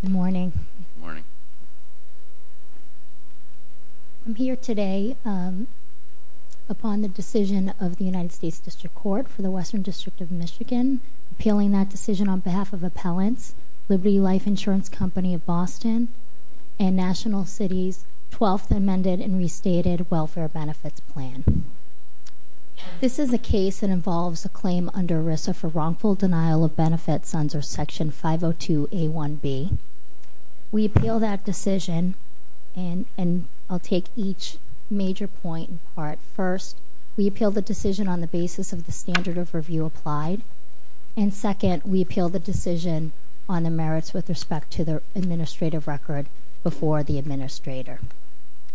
Good morning, I'm here today upon the decision of the United States District Court for the Western District of Michigan, appealing that decision on behalf of Appellants, Liberty Life Insurance Company of Boston, and National Cities 12th Amended and Restated Welfare Benefits Plan. This is a case that involves a claim under ERISA for wrongful denial of benefits under Section 502A1B. We appeal that decision, and I'll take each major point in part. First, we appeal the decision on the basis of the standard of review applied, and second, we appeal the decision on the merits with respect to the administrative record before the administrator.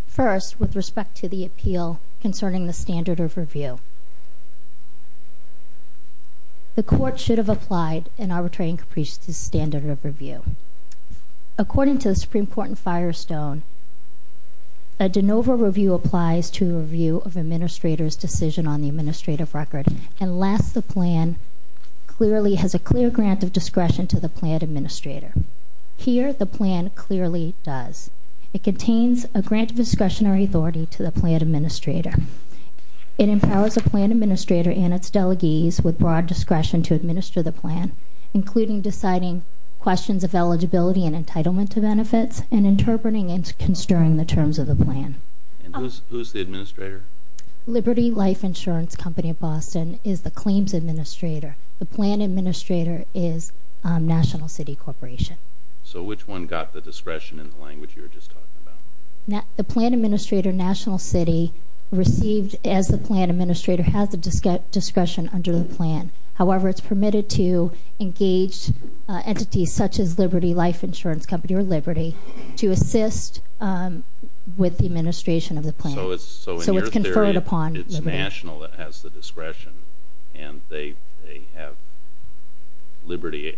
First, with respect to the appeal concerning the standard of review, the court should have applied an arbitrary and capricious standard of review. According to the Supreme Court and Firestone, a de novo review applies to a review of an administrator's decision on the administrative record, unless the plan clearly has a clear grant of discretion to the plan administrator. Here the plan clearly does. It contains a grant of discretionary authority to the plan administrator. It empowers the plan administrator and its delegees with broad discretion to administer the plan, including deciding questions of eligibility and entitlement to benefits and interpreting and constructing the terms of the plan. And who's the administrator? Liberty Life Insurance Company of Boston is the claims administrator. The plan administrator is National City Corporation. So which one got the discretion in the language you were just talking about? The plan administrator, National City, received as the plan administrator has the discretion under the plan. However, it's permitted to engage entities such as Liberty Life Insurance Company or Liberty to assist with the administration of the plan. So it's conferred upon Liberty. So in your theory, it's National that has the discretion and they have Liberty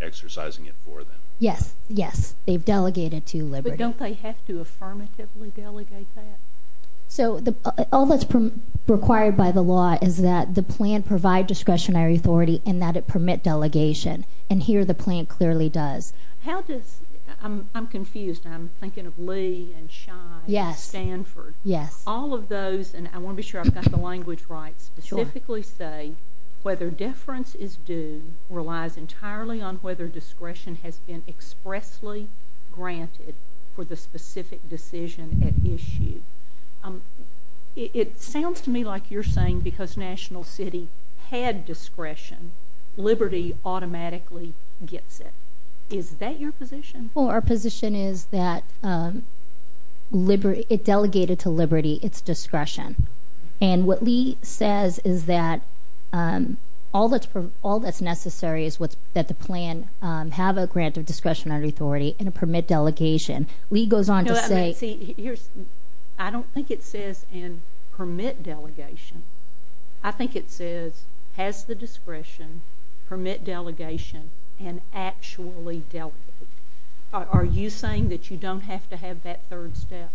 exercising it for them? Yes. Yes. They've delegated to Liberty. But don't they have to affirmatively delegate that? So all that's required by the law is that the plan provide discretionary authority and that it permit delegation. And here the plan clearly does. How does, I'm confused, I'm thinking of Lee and Schein and Stanford, all of those, and I want to be sure I've got the language right, specifically say whether deference is due relies entirely on whether discretion has been expressly granted for the specific decision at issue. It sounds to me like you're saying because National City had discretion, Liberty automatically gets it. Is that your position? Well, our position is that it delegated to Liberty its discretion. And what Lee says is that all that's necessary is that the plan have a grant of discretionary authority and a permit delegation. Lee goes on to say... No, I mean, see, here's, I don't think it says and permit delegation. I think it says has the discretion, permit delegation and actually delegate. Are you saying that you don't have to have that third step?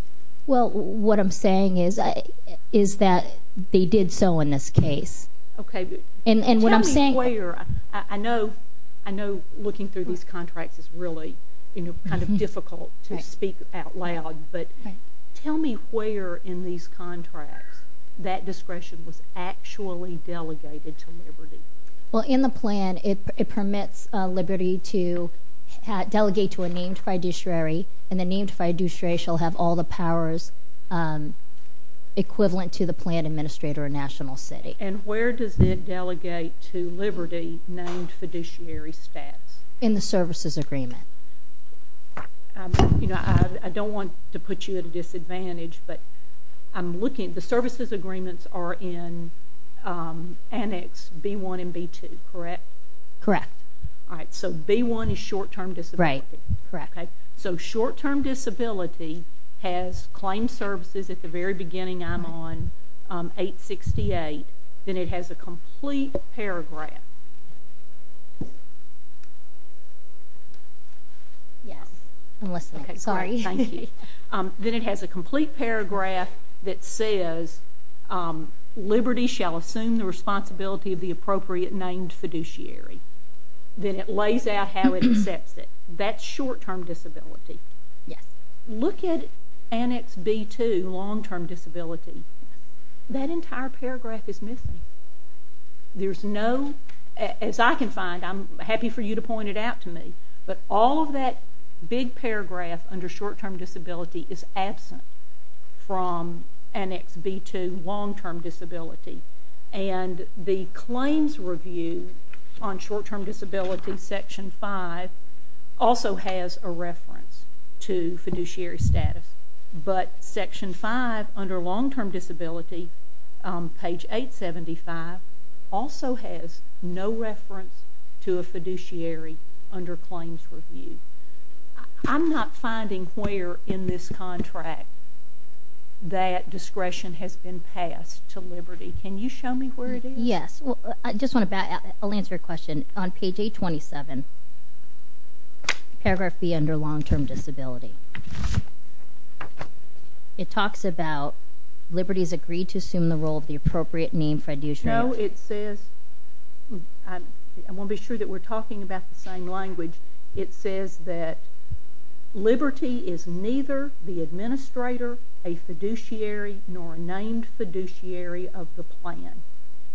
Well, what I'm saying is that they did so in this case. Okay. And what I'm saying... Tell me where. I know looking through these contracts is really kind of difficult to speak out loud, but tell me where in these contracts that discretion was actually delegated to Liberty. Well, in the plan, it permits Liberty to delegate to a named fiduciary and the named fiduciary shall have all the powers equivalent to the plan administrator of National City. And where does it delegate to Liberty named fiduciary stats? In the services agreement. You know, I don't want to put you at a disadvantage, but I'm looking, the services agreements are in Annex B-1 and B-2, correct? Correct. All right. So B-1 is short-term disability. Right. Correct. Okay. So short-term disability has claim services at the very beginning, I'm on 868, then it has a complete paragraph. Yes. I'm listening. Sorry. Okay. Thank you. Then it has a complete paragraph that says, Liberty shall assume the responsibility of the appropriate named fiduciary. Then it lays out how it accepts it. That's short-term disability. Yes. Look at Annex B-2, long-term disability. That entire paragraph is missing. There's no, as I can find, I'm happy for you to point it out to me, but all of that big paragraph under short-term disability is absent from Annex B-2, long-term disability. And the claims review on short-term disability, Section 5, also has a reference to fiduciary status. But Section 5 under long-term disability, page 875, also has no reference to a fiduciary under claims review. I'm not finding where in this contract that discretion has been passed to Liberty. Can you show me where it is? Yes. I just want to back up. I'll answer your question. On page 827, paragraph B under long-term disability, it talks about Liberty's agreed to assume the role of the appropriate named fiduciary. No, it says, I want to be sure that we're talking about the same language. It says that Liberty is neither the administrator, a fiduciary, nor a named fiduciary of the plan,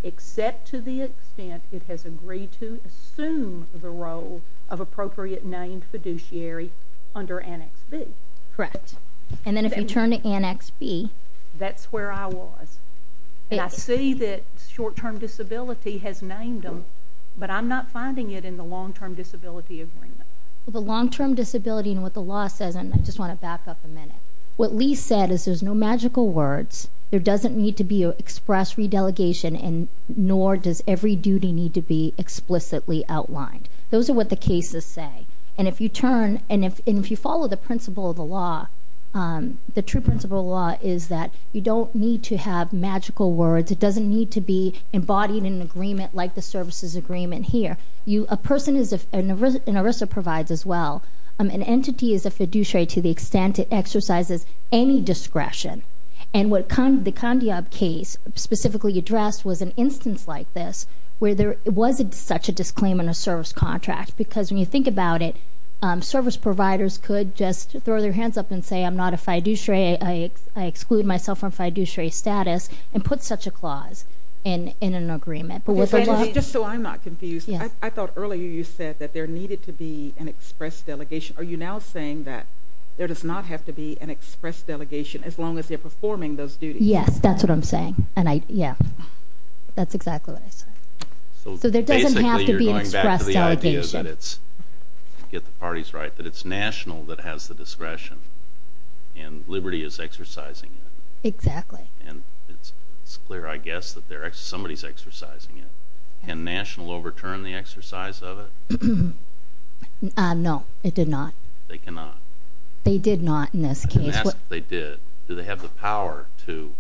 except to the extent it has agreed to assume the role of appropriate named fiduciary under Annex B. Correct. And then if you turn to Annex B. That's where I was. And I see that short-term disability has named them, but I'm not finding it in the long-term disability agreement. Well, the long-term disability and what the law says, and I just want to back up a minute. What Lee said is there's no magical words. There doesn't need to be an express re-delegation, and nor does every duty need to be explicitly outlined. Those are what the cases say. And if you turn, and if you follow the principle of the law, the true principle of the law is that you don't need to have magical words. It doesn't need to be embodied in an agreement like the services agreement here. A person is, and ERISA provides as well, an entity is a fiduciary to the extent it exercises any discretion. And what the Condiob case specifically addressed was an instance like this where there wasn't such a disclaim in a service contract, because when you think about it, service providers could just throw their hands up and say, I'm not a fiduciary, I exclude myself from fiduciary status, and put such a clause in an agreement. Just so I'm not confused, I thought earlier you said that there needed to be an express delegation. Are you now saying that there does not have to be an express delegation as long as they're performing those duties? Yes, that's what I'm saying. And I, yeah, that's exactly what I said. So there doesn't have to be an express delegation. So basically you're going back to the idea that it's, get the parties right, that it's national that has the discretion, and liberty is exercising it. Exactly. And it's clear, I guess, that somebody's exercising it. Can national overturn the exercise of it? No, it did not. They cannot? They did not in this case. I'm going to ask if they did. Do they have the power to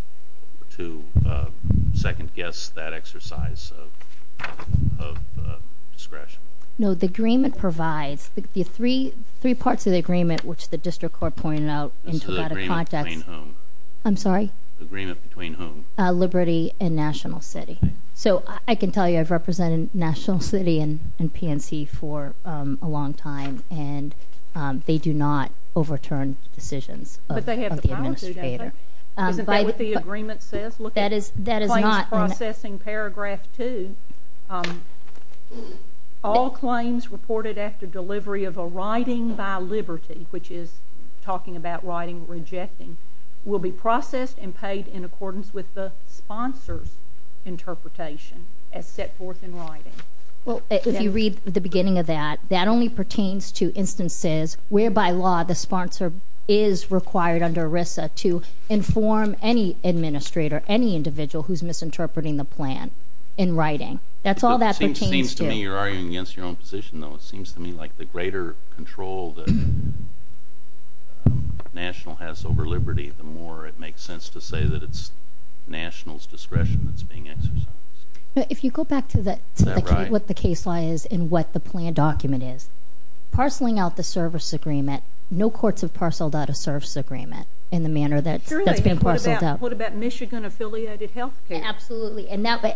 second guess that exercise of discretion? No, the agreement provides, the three parts of the agreement which the district court pointed out in the Togata projects. As to the agreement between whom? I'm sorry? Agreement between whom? Liberty and National City. So I can tell you I've represented National City and PNC for a long time and they do not overturn decisions of the administrator. But they have the power to, don't they? Isn't that what the agreement says? That is not. Look at claims processing paragraph two. All claims reported after delivery of a writing by Liberty, which is talking about writing and rejecting, will be processed and paid in accordance with the sponsor's interpretation as set forth in writing. Well, if you read the beginning of that, that only pertains to instances where by law the sponsor is required under ERISA to inform any administrator, any individual who's misinterpreting the plan in writing. That's all that pertains to. It seems to me you're arguing against your own position, though. It seems to me like the greater control that National has over Liberty, the more it makes sense to say that it's National's discretion that's being exercised. If you go back to what the case law is and what the plan document is, parceling out the service agreement, no courts have parceled out a service agreement in the manner that that's been parceled out. What about Michigan-affiliated health care? Absolutely.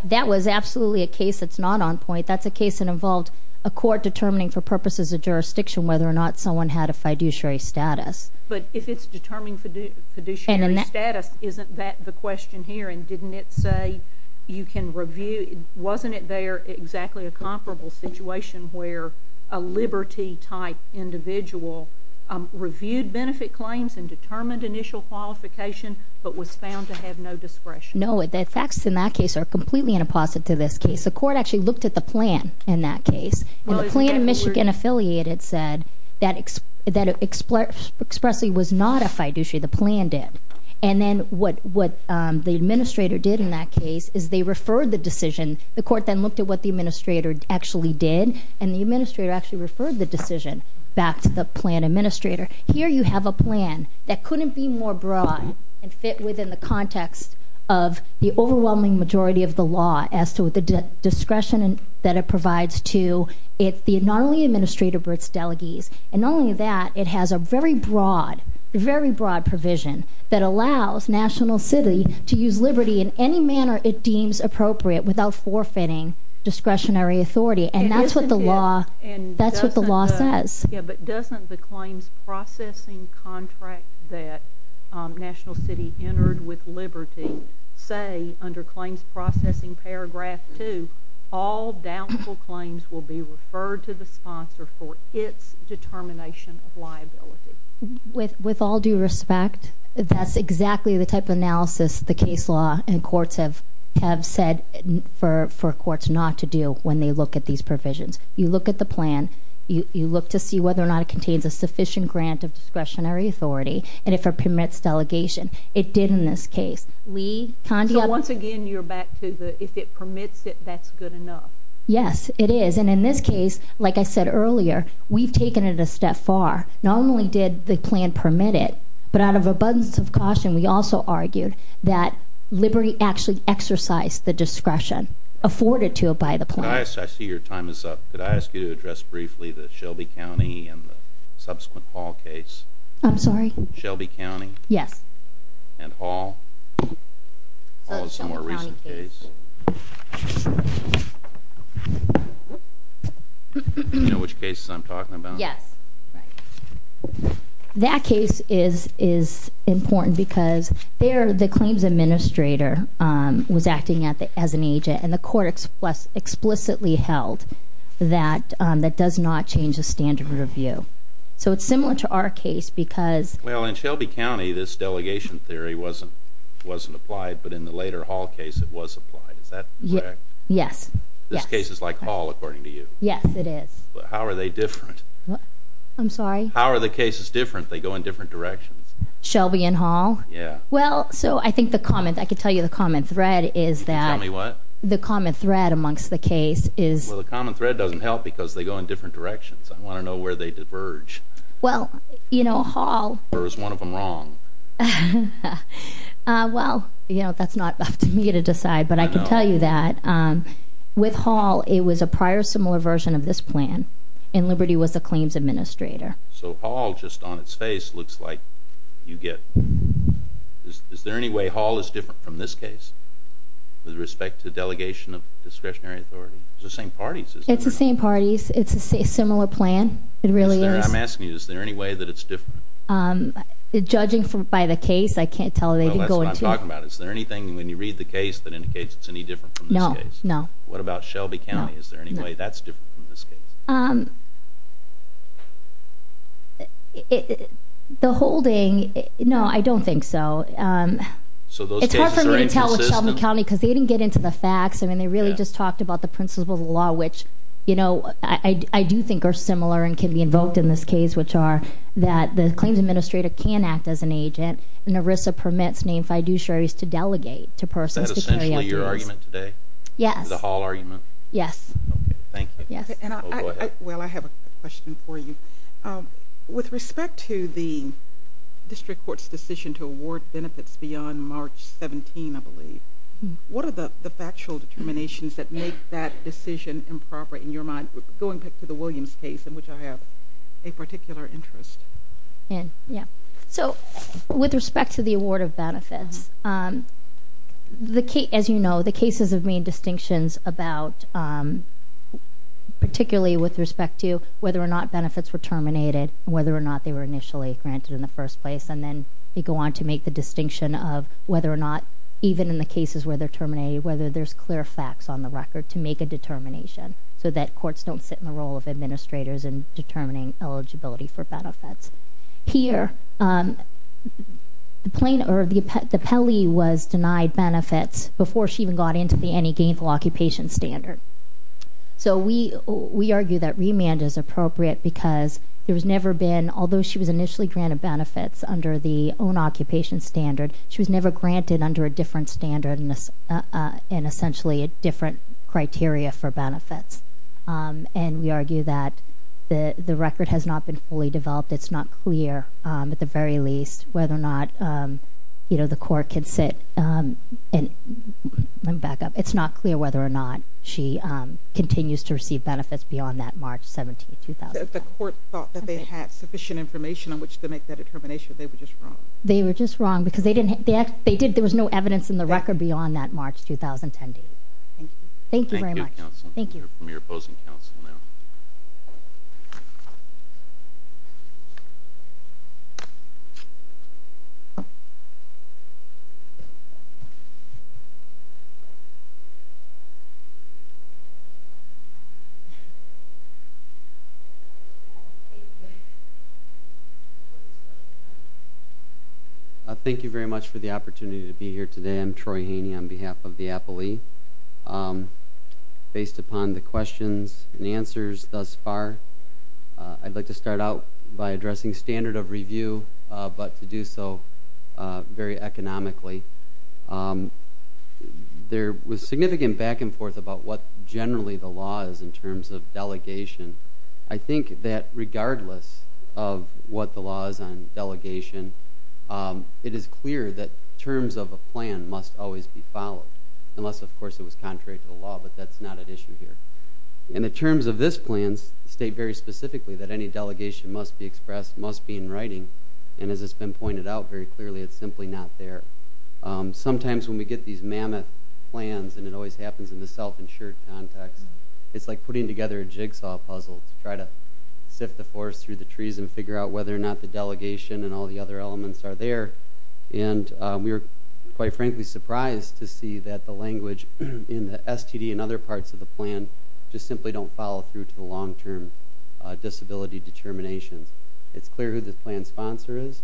That was absolutely a case that's not on point. That's a case that involved a court determining for purposes of jurisdiction whether or not someone had a fiduciary status. But if it's determining fiduciary status, isn't that the question here? And didn't it say you can review? Wasn't it there exactly a comparable situation where a Liberty-type individual reviewed benefit claims and determined initial qualification but was found to have no discretion? No. The facts in that case are completely an opposite to this case. The court actually looked at the plan in that case, and the plan in Michigan-affiliated said that expressly was not a fiduciary. The plan did. And then what the administrator did in that case is they referred the decision. The court then looked at what the administrator actually did, and the administrator actually referred the decision back to the plan administrator. Here you have a plan that couldn't be more broad and fit within the context of the overwhelming majority of the law as to the discretion that it provides to not only the administrator but its delegates. And not only that, it has a very broad, very broad provision that allows National City to use Liberty in any manner it deems appropriate without forfeiting discretionary authority. And that's what the law says. But doesn't the claims processing contract that National City entered with Liberty say under claims processing paragraph 2, all doubtful claims will be referred to the sponsor for its determination of liability? With all due respect, that's exactly the type of analysis the case law and courts have said for courts not to do when they look at these provisions. You look at the plan, you look to see whether or not it contains a sufficient grant of discretionary authority, and if it permits delegation. It did in this case. So once again, you're back to if it permits it, that's good enough. Yes, it is. And in this case, like I said earlier, we've taken it a step far. Not only did the plan permit it, but out of abundance of caution, we also argued that Liberty actually exercised the discretion afforded to it by the plan. I see your time is up. Could I ask you to address briefly the Shelby County and the subsequent Hall case? I'm sorry? Shelby County? Yes. And Hall? Hall is a more recent case. Do you know which case I'm talking about? Yes. Right. That case is important because the claims administrator was acting as an agent, and the court explicitly held that that does not change the standard of review. So it's similar to our case because… Well, in Shelby County, this delegation theory wasn't applied, but in the later Hall case, it was applied. Is that correct? Yes. This case is like Hall, according to you? Yes, it is. But how are they different? I'm sorry? How are the cases different? They go in different directions. Shelby and Hall? Yeah. Well, so I think the common… I could tell you the common thread is that… Tell me what? The common thread amongst the case is… Well, the common thread doesn't help because they go in different directions. I want to know where they diverge. Well, you know, Hall… Or is one of them wrong? Well, you know, that's not up to me to decide, but I can tell you that with Hall, it was a prior similar version of this plan, and Liberty was the claims administrator. So Hall, just on its face, looks like you get… Is there any way Hall is different from this case with respect to delegation of discretionary authority? It's the same parties, isn't it? It's the same parties. It's a similar plan. It really is. I'm asking you, is there any way that it's different? Judging by the case, I can't tell. That's what I'm talking about. Is there anything when you read the case that indicates it's any different from this case? No, no. What about Shelby County? Is there any way that's different from this case? No, I don't think so. So those cases are inconsistent? It's hard for me to tell with Shelby County because they didn't get into the facts. I mean, they really just talked about the principles of the law, which I do think are similar and can be invoked in this case, which are that the claims administrator can act as an agent, and ERISA permits named fiduciaries to delegate to persons… Is that essentially your argument today? Yes. The Hall argument? Yes. Thank you. Well, I have a question for you. With respect to the district court's decision to award benefits beyond March 17, I believe, what are the factual determinations that make that decision improper in your mind, going back to the Williams case in which I have a particular interest? Yeah. So with respect to the award of benefits, as you know, the cases have made distinctions about, particularly with respect to whether or not benefits were terminated, whether or not they were initially granted in the first place, and then they go on to make the distinction of whether or not, even in the cases where they're terminated, whether there's clear facts on the record to make a determination so that courts don't sit in the role of administrators in determining eligibility for benefits. Here, the Pelley was denied benefits before she even got into the Any Gainful Occupation Standard. So we argue that remand is appropriate because there has never been, although she was initially granted benefits under the own occupation standard, she was never granted under a different standard and essentially a different criteria for benefits. And we argue that the record has not been fully developed. It's not clear, at the very least, whether or not, you know, the court can sit. Let me back up. It's not clear whether or not she continues to receive benefits beyond that March 17, 2005. If the court thought that they had sufficient information on which to make that determination, they were just wrong. They were just wrong because there was no evidence in the record beyond that March 2010 date. Thank you. Thank you very much. Thank you. We have a question from your opposing counsel now. Thank you very much for the opportunity to be here today. I'm Troy Haney on behalf of the Appalee. Based upon the questions and answers thus far, I'd like to start out by addressing standard of review, but to do so very economically. There was significant back and forth about what generally the law is in terms of delegation. I think that regardless of what the law is on delegation, it is clear that terms of a plan must always be followed. Unless, of course, it was contrary to the law, but that's not an issue here. And the terms of this plan state very specifically that any delegation must be expressed, must be in writing, and as it's been pointed out very clearly, it's simply not there. Sometimes when we get these mammoth plans, and it always happens in the self-insured context, it's like putting together a jigsaw puzzle to try to sift the forest through the trees and figure out whether or not the delegation and all the other elements are there. And we were quite frankly surprised to see that the language in the STD and other parts of the plan just simply don't follow through to the long-term disability determinations. It's clear who the plan sponsor is.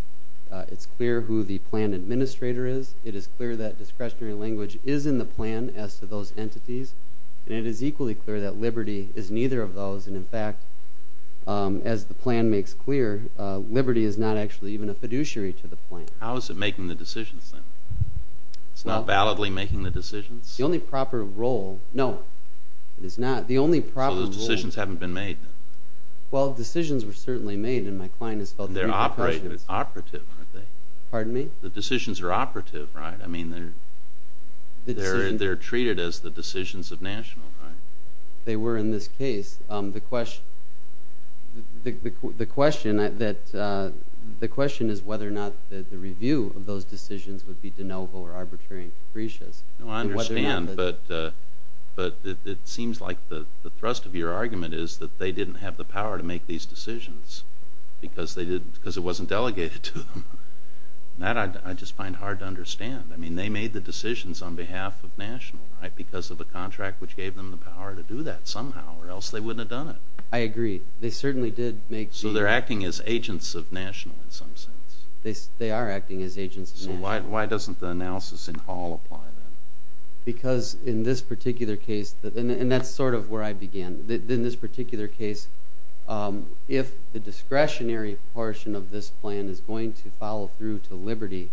It's clear who the plan administrator is. It is clear that discretionary language is in the plan as to those entities. And it is equally clear that liberty is neither of those. And, in fact, as the plan makes clear, liberty is not actually even a fiduciary to the plan. How is it making the decisions, then? It's not validly making the decisions? The only proper role—no, it is not. The only proper role— So those decisions haven't been made, then? Well, decisions were certainly made, and my client has felt— They're operative, aren't they? Pardon me? The decisions are operative, right? I mean, they're treated as the decisions of national, right? They were in this case. The question is whether or not the review of those decisions would be de novo or arbitrary and capricious. I understand, but it seems like the thrust of your argument is that they didn't have the power to make these decisions because it wasn't delegated to them. I mean, they made the decisions on behalf of national, right? Because of a contract which gave them the power to do that somehow, or else they wouldn't have done it. I agree. They certainly did make the— So they're acting as agents of national in some sense. They are acting as agents of national. So why doesn't the analysis in Hall apply then? Because in this particular case—and that's sort of where I began. In this particular case, if the discretionary portion of this plan is going to follow through to liberty,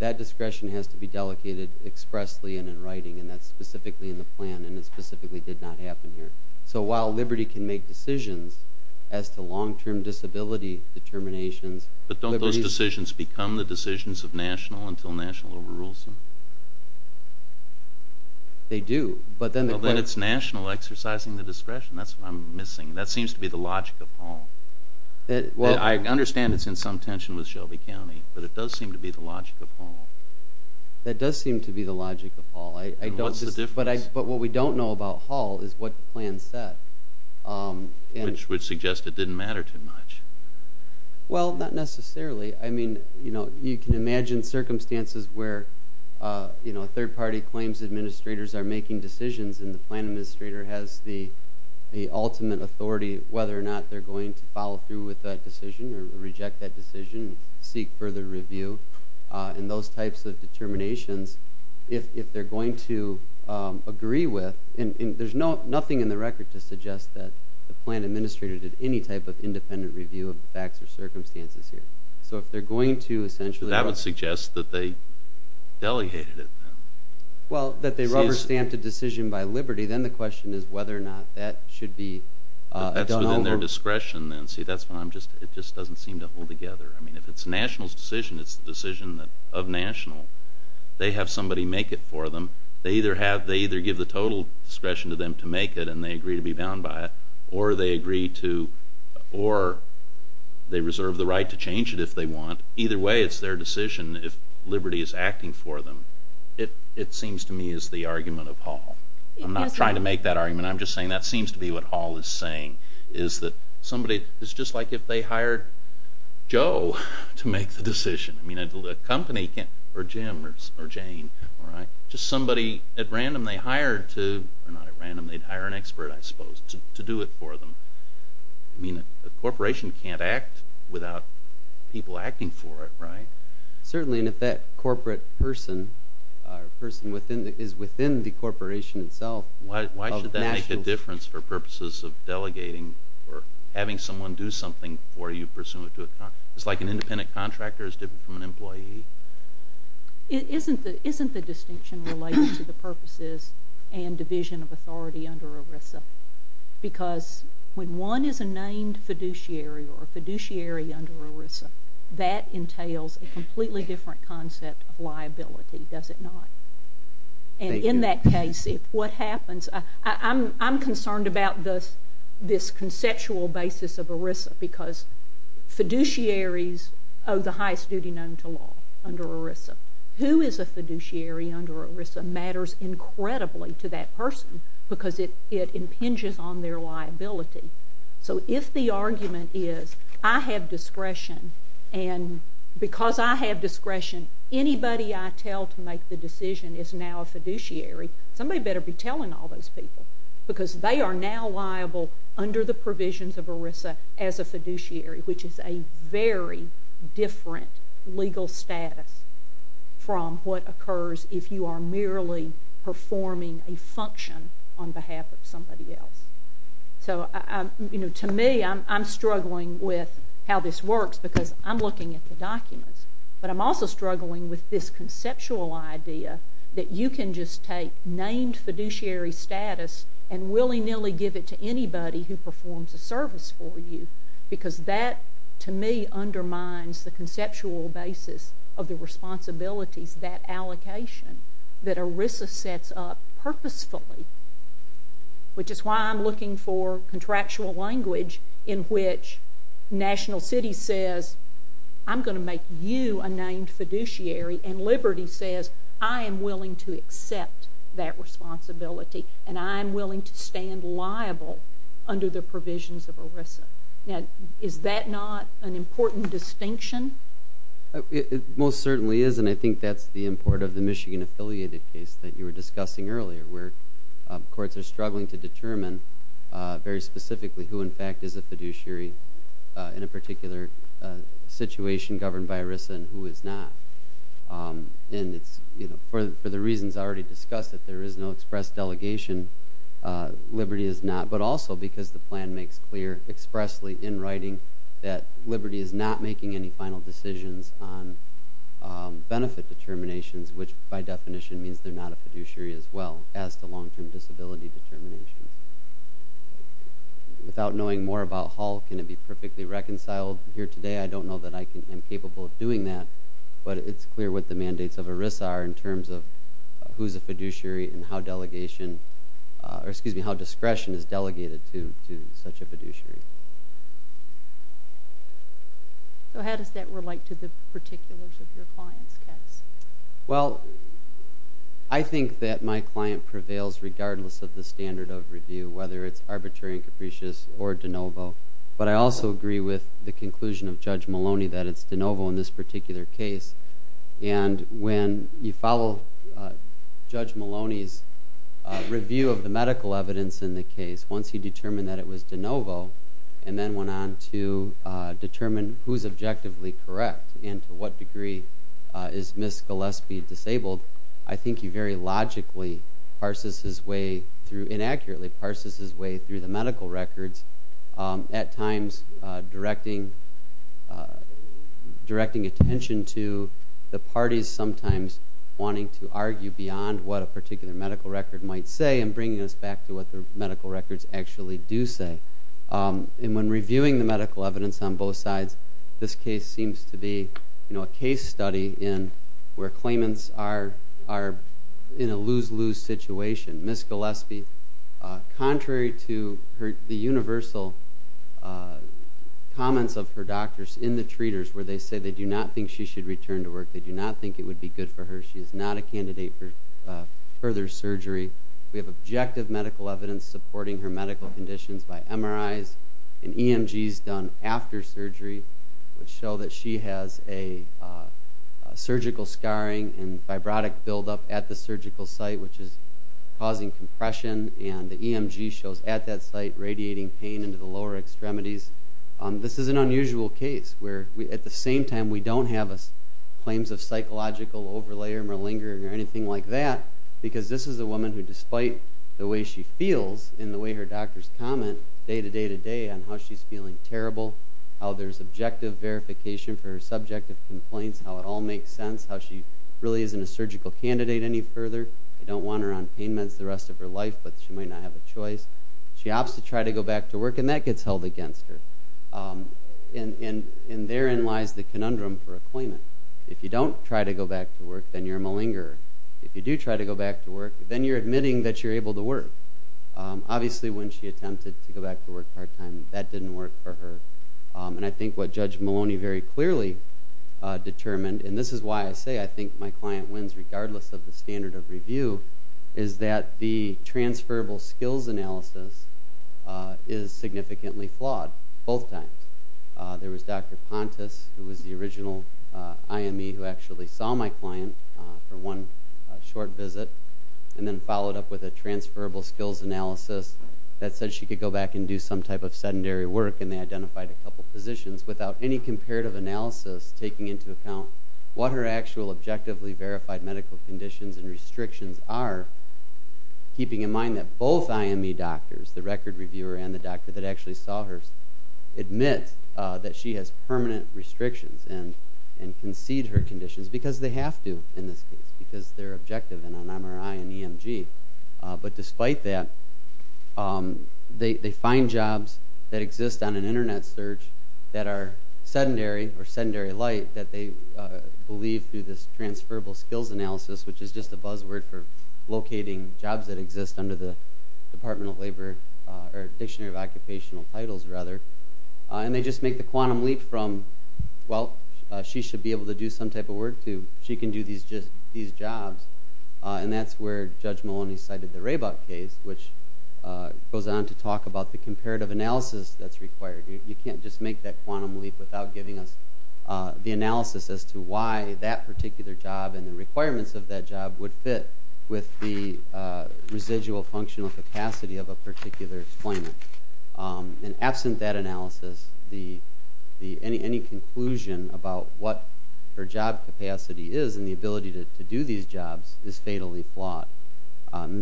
that discretion has to be delegated expressly and in writing, and that's specifically in the plan, and it specifically did not happen here. So while liberty can make decisions as to long-term disability determinations— But don't those decisions become the decisions of national until national overrules them? They do, but then the— Well, then it's national exercising the discretion. That's what I'm missing. That seems to be the logic of Hall. I understand it's in some tension with Shelby County, but it does seem to be the logic of Hall. That does seem to be the logic of Hall. What's the difference? But what we don't know about Hall is what the plan said. Which would suggest it didn't matter too much. Well, not necessarily. I mean, you can imagine circumstances where third-party claims administrators are making decisions and the plan administrator has the ultimate authority whether or not they're going to follow through with that decision or reject that decision, seek further review, and those types of determinations, if they're going to agree with— and there's nothing in the record to suggest that the plan administrator did any type of independent review of the facts or circumstances here. So if they're going to essentially— That would suggest that they delegated it then. Well, that they rubber-stamped a decision by liberty, then the question is whether or not that should be done over. That's within their discretion then. See, that's what I'm just—it just doesn't seem to hold together. I mean, if it's national's decision, it's the decision of national. They have somebody make it for them. They either give the total discretion to them to make it and they agree to be bound by it, or they reserve the right to change it if they want. Either way, it's their decision if liberty is acting for them. It seems to me is the argument of Hall. I'm not trying to make that argument. I'm just saying that seems to be what Hall is saying, is that somebody—it's just like if they hired Joe to make the decision. I mean, a company can't—or Jim or Jane, all right? Just somebody at random they hire to—or not at random. They'd hire an expert, I suppose, to do it for them. I mean, a corporation can't act without people acting for it, right? Certainly, and if that corporate person or person is within the corporation itself— Why should that make a difference for purposes of delegating or having someone do something for you pursuant to a contract? It's like an independent contractor is different from an employee? Isn't the distinction related to the purposes and division of authority under ERISA? Because when one is a named fiduciary or a fiduciary under ERISA, that entails a completely different concept of liability, does it not? And in that case, if what happens— I'm concerned about this conceptual basis of ERISA because fiduciaries owe the highest duty known to law under ERISA. Who is a fiduciary under ERISA matters incredibly to that person because it impinges on their liability. So if the argument is I have discretion and because I have discretion, anybody I tell to make the decision is now a fiduciary, somebody better be telling all those people because they are now liable under the provisions of ERISA as a fiduciary, which is a very different legal status from what occurs if you are merely performing a function on behalf of somebody else. So, you know, to me, I'm struggling with how this works because I'm looking at the documents, but I'm also struggling with this conceptual idea that you can just take named fiduciary status and willy-nilly give it to anybody who performs a service for you because that, to me, undermines the conceptual basis of the responsibilities, that allocation that ERISA sets up purposefully, which is why I'm looking for contractual language in which National City says I'm going to make you a named fiduciary and Liberty says I am willing to accept that responsibility and I am willing to stand liable under the provisions of ERISA. Now, is that not an important distinction? It most certainly is, and I think that's the import of the Michigan-affiliated case that you were discussing earlier, where courts are struggling to determine very specifically who in fact is a fiduciary in a particular situation governed by ERISA and who is not. And for the reasons I already discussed, if there is no express delegation, Liberty is not, but also because the plan makes clear expressly in writing that Liberty is not making any final decisions on benefit determinations, which by definition means they're not a fiduciary as well as to long-term disability determinations. Without knowing more about Hull, can it be perfectly reconciled here today? I don't know that I am capable of doing that, but it's clear what the mandates of ERISA are in terms of who is a fiduciary and how discretion is delegated to such a fiduciary. So how does that relate to the particulars of your client's case? Well, I think that my client prevails regardless of the standard of review, whether it's arbitrary and capricious or de novo. But I also agree with the conclusion of Judge Maloney that it's de novo in this particular case. And when you follow Judge Maloney's review of the medical evidence in the case, once he determined that it was de novo and then went on to determine who is objectively correct and to what degree is Ms. Gillespie disabled, I think he very logically, inaccurately, parses his way through the medical records, at times directing attention to the parties sometimes wanting to argue beyond what a particular medical record might say and bringing us back to what the medical records actually do say. And when reviewing the medical evidence on both sides, this case seems to be a case study where claimants are in a lose-lose situation. Ms. Gillespie, contrary to the universal comments of her doctors in the treaters where they say they do not think she should return to work, they do not think it would be good for her, they say she is not a candidate for further surgery. We have objective medical evidence supporting her medical conditions by MRIs and EMGs done after surgery which show that she has a surgical scarring and fibrotic buildup at the surgical site which is causing compression, and the EMG shows at that site radiating pain into the lower extremities. This is an unusual case where at the same time we don't have claims of psychological overlay or malingering or anything like that because this is a woman who, despite the way she feels and the way her doctors comment day to day to day on how she's feeling terrible, how there's objective verification for her subjective complaints, how it all makes sense, how she really isn't a surgical candidate any further. They don't want her on pain meds the rest of her life, but she might not have a choice. She opts to try to go back to work, and that gets held against her. And therein lies the conundrum for a claimant. If you don't try to go back to work, then you're a malingerer. If you do try to go back to work, then you're admitting that you're able to work. Obviously when she attempted to go back to work part-time, that didn't work for her. And I think what Judge Maloney very clearly determined, and this is why I say I think my client wins regardless of the standard of review, is that the transferable skills analysis is significantly flawed both times. There was Dr. Pontus, who was the original IME who actually saw my client for one short visit and then followed up with a transferable skills analysis that said she could go back and do some type of sedentary work, and they identified a couple positions without any comparative analysis taking into account what her actual objectively verified medical conditions and restrictions are, keeping in mind that both IME doctors, the record reviewer and the doctor that actually saw her, admit that she has permanent restrictions and concede her conditions because they have to in this case because they're objective in an MRI and EMG. But despite that, they find jobs that exist on an Internet search that are sedentary or sedentary light that they believe through this transferable skills analysis, which is just a buzzword for locating jobs that exist under the Department of Labor, or Dictionary of Occupational Titles, rather, and they just make the quantum leap from, well, she should be able to do some type of work, to she can do these jobs. And that's where Judge Maloney cited the Rabok case, which goes on to talk about the comparative analysis that's required. You can't just make that quantum leap without giving us the analysis as to why that particular job and the requirements of that job would fit with the residual functional capacity of a particular employment. And absent that analysis, any conclusion about what her job capacity is and the ability to do these jobs is fatally flawed.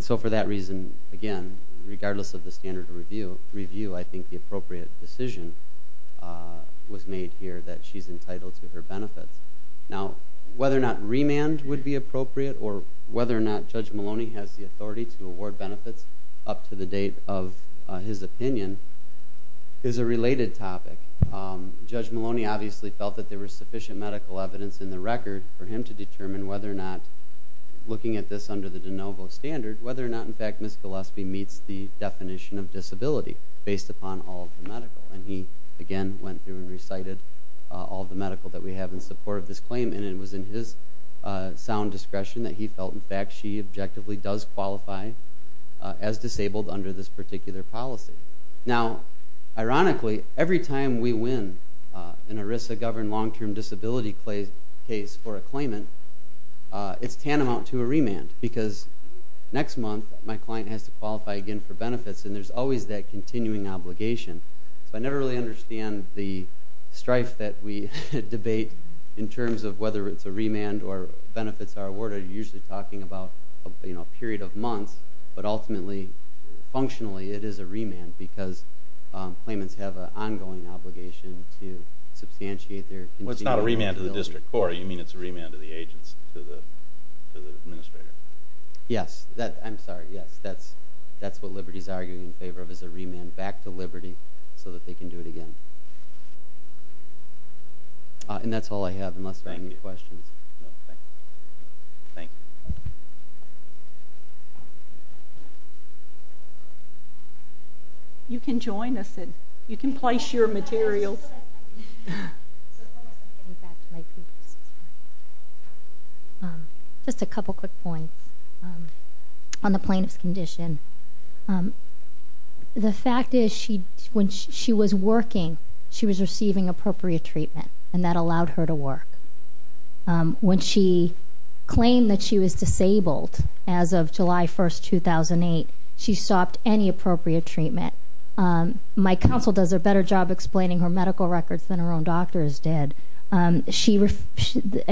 So for that reason, again, regardless of the standard of review, I think the appropriate decision was made here that she's entitled to her benefits. Now, whether or not remand would be appropriate or whether or not Judge Maloney has the authority to award benefits up to the date of his opinion is a related topic. Judge Maloney obviously felt that there was sufficient medical evidence in the record for him to determine whether or not, looking at this under the de novo standard, whether or not, in fact, Ms. Gillespie meets the definition of disability based upon all of the medical. And he, again, went through and recited all of the medical that we have in support of this claim, and it was in his sound discretion that he felt, in fact, she objectively does qualify as disabled under this particular policy. Now, ironically, every time we win an ERISA-governed long-term disability case for a claimant, it's tantamount to a remand because next month my client has to qualify again for benefits, and there's always that continuing obligation. So I never really understand the strife that we debate in terms of whether it's a remand or benefits are awarded. You're usually talking about a period of months, but ultimately, functionally, it is a remand because claimants have an ongoing obligation to substantiate their continuing liability. Well, it's not a remand to the district court. You mean it's a remand to the agents, to the administrator? Yes. I'm sorry. Yes, that's what Liberty is arguing in favor of is a remand back to Liberty so that they can do it again. And that's all I have unless there are any questions. Thank you. You can join us. You can place your materials. Just a couple quick points on the plaintiff's condition. The fact is when she was working, she was receiving appropriate treatment, and that allowed her to work. When she claimed that she was disabled as of July 1st, 2008, she stopped any appropriate treatment. My counsel does a better job explaining her medical records than her own doctors did. A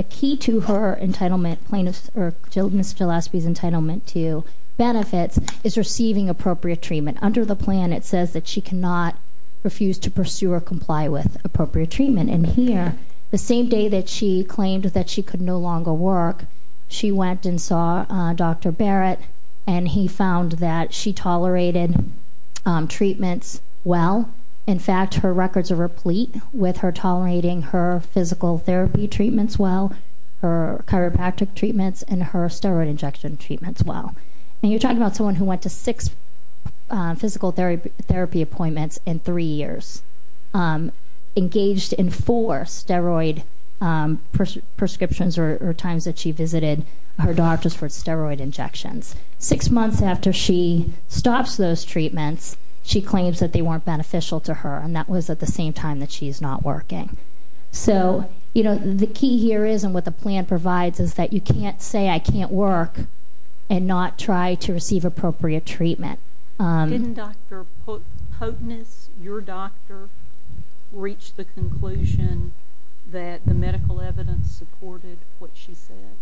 key to her entitlement plaintiff's or Ms. Gillespie's entitlement to benefits is receiving appropriate treatment. Under the plan, it says that she cannot refuse to pursue or comply with appropriate treatment. And here, the same day that she claimed that she could no longer work, she went and saw Dr. Barrett, and he found that she tolerated treatments well. In fact, her records are replete with her tolerating her physical therapy treatments well, her chiropractic treatments, and her steroid injection treatments well. And you're talking about someone who went to six physical therapy appointments in three years, engaged in four steroid prescriptions or times that she visited her doctors for steroid injections. Six months after she stops those treatments, she claims that they weren't beneficial to her, and that was at the same time that she's not working. So the key here is, and what the plan provides, is that you can't say, I can't work and not try to receive appropriate treatment. Didn't Dr. Potnas, your doctor, reach the conclusion that the medical evidence supported what she said?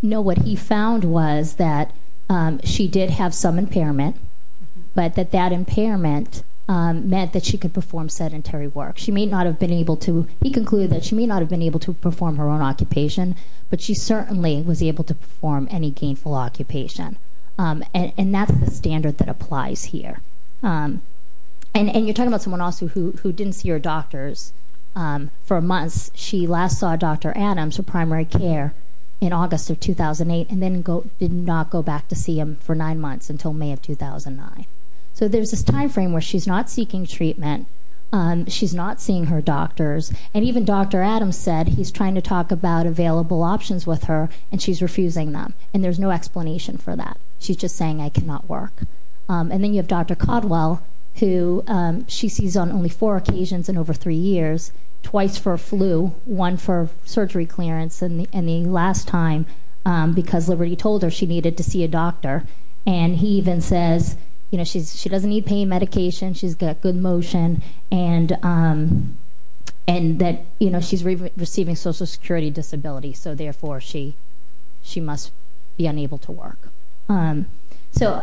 No, what he found was that she did have some impairment, but that that impairment meant that she could perform sedentary work. She may not have been able to. He concluded that she may not have been able to perform her own occupation, but she certainly was able to perform any gainful occupation. And that's the standard that applies here. And you're talking about someone also who didn't see her doctors for months. She last saw Dr. Adams for primary care in August of 2008 and then did not go back to see him for nine months until May of 2009. So there's this time frame where she's not seeking treatment. She's not seeing her doctors. And even Dr. Adams said he's trying to talk about available options with her, and she's refusing them, and there's no explanation for that. She's just saying, I cannot work. And then you have Dr. Codwell, who she sees on only four occasions in over three years, twice for a flu, one for surgery clearance, and the last time because Liberty told her she needed to see a doctor. And he even says she doesn't need pain medication, she's got good motion, and that she's receiving Social Security disability, so therefore she must be unable to work. So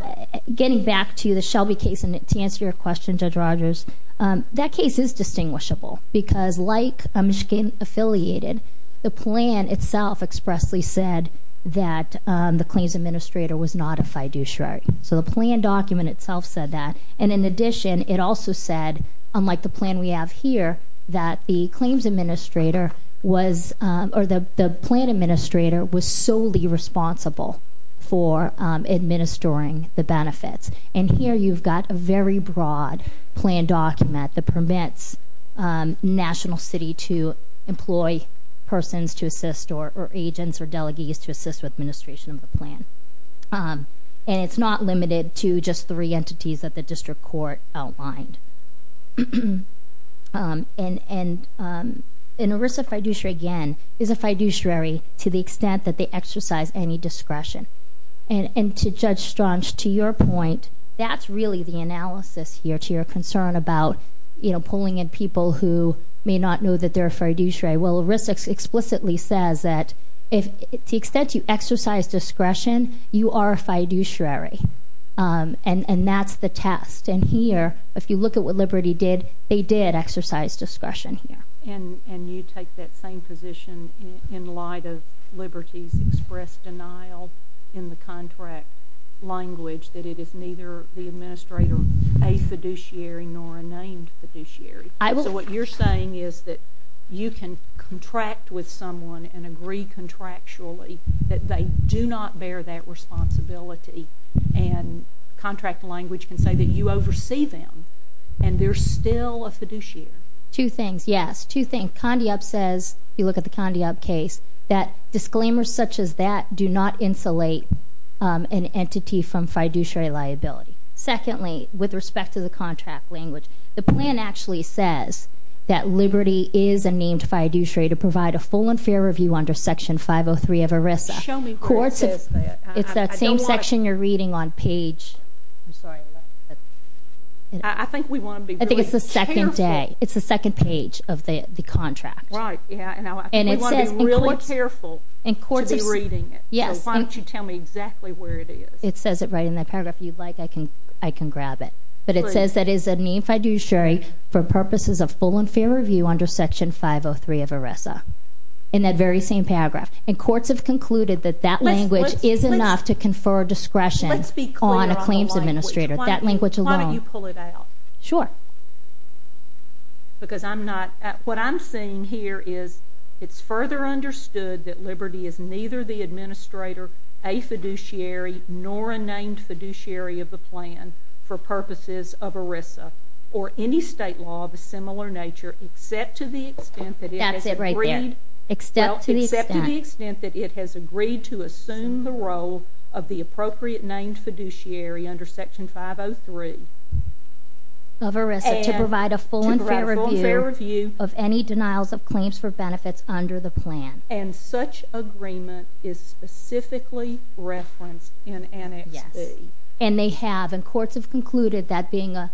getting back to the Shelby case, and to answer your question, Judge Rogers, that case is distinguishable because, like Michigan Affiliated, the plan itself expressly said that the claims administrator was not a fiduciary. So the plan document itself said that. And in addition, it also said, unlike the plan we have here, that the claims administrator was or the plan administrator was solely responsible for administering the benefits. And here you've got a very broad plan document that permits National City to employ persons to assist or agents or delegates to assist with administration of the plan. And it's not limited to just three entities that the district court outlined. An ERISA fiduciary, again, is a fiduciary to the extent that they exercise any discretion. And to Judge Straunch, to your point, that's really the analysis here, to your concern about pulling in people who may not know that they're a fiduciary. Well, ERISA explicitly says that to the extent you exercise discretion, you are a fiduciary. And that's the test. And here, if you look at what Liberty did, they did exercise discretion here. And you take that same position in light of Liberty's expressed denial in the contract language that it is neither the administrator a fiduciary nor a named fiduciary. So what you're saying is that you can contract with someone and agree contractually that they do not bear that responsibility and contract language can say that you oversee them and they're still a fiduciary. Two things, yes. Two things. Condi Up says, if you look at the Condi Up case, that disclaimers such as that do not insulate an entity from fiduciary liability. Secondly, with respect to the contract language, the plan actually says that Liberty is a named fiduciary to provide a full and fair review under Section 503 of ERISA. Show me where it says that. It's that same section you're reading on page... I'm sorry. I think we want to be really careful. I think it's the second day. It's the second page of the contract. Right. And I think we want to be really careful to be reading it. Yes. So why don't you tell me exactly where it is? It says it right in that paragraph. If you'd like, I can grab it. But it says that it is a named fiduciary for purposes of full and fair review under Section 503 of ERISA, in that very same paragraph. And courts have concluded that that language is enough to confer discretion on a claims administrator. That language alone... Why don't you pull it out? Sure. Because I'm not... What I'm seeing here is it's further understood that Liberty is neither the administrator, a fiduciary, nor a named fiduciary of the plan for purposes of ERISA, or any state law of a similar nature, except to the extent that it has agreed... That's it right there. Except to the extent... Well, except to the extent that it has agreed to assume the role of the appropriate named fiduciary under Section 503. Of ERISA, to provide a full and fair review... To provide a full and fair review... Of any denials of claims for benefits under the plan. And such agreement is specifically referenced in annex C. Yes. And they have. And courts have concluded that being a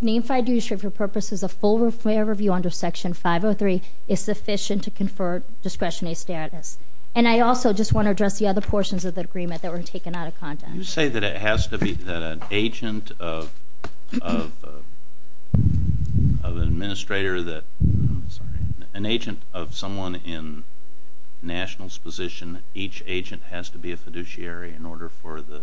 named fiduciary for purposes of full and fair review under Section 503 is sufficient to confer discretionary status. And I also just want to address the other portions of the agreement that were taken out of context. You say that it has to be that an agent of an administrator that... I'm sorry. An agent of someone in national's position, each agent has to be a fiduciary in order for the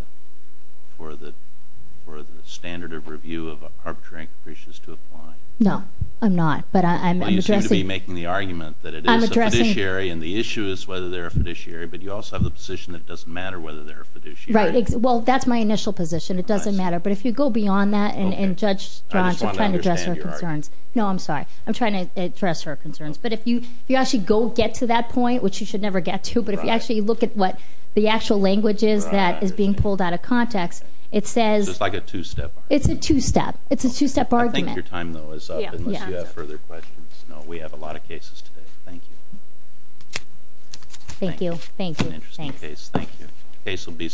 standard of review of arbitrary capricious to apply. No, I'm not, but I'm addressing... Well, you seem to be making the argument that it is a fiduciary and the issue is whether they're a fiduciary, but you also have the position that it doesn't matter whether they're a fiduciary. Right. Well, that's my initial position. It doesn't matter. But if you go beyond that and Judge Johnson... I just want to understand your argument. No, I'm sorry. I'm trying to address her concerns. But if you actually go get to that point, which you should never get to, but if you actually look at what the actual language is that is being pulled out of context, it says... So it's like a two-step argument. It's a two-step. It's a two-step argument. I think your time, though, is up unless you have further questions. No, we have a lot of cases today. Thank you. Thank you. Thank you. Interesting case. Thank you. Case will be...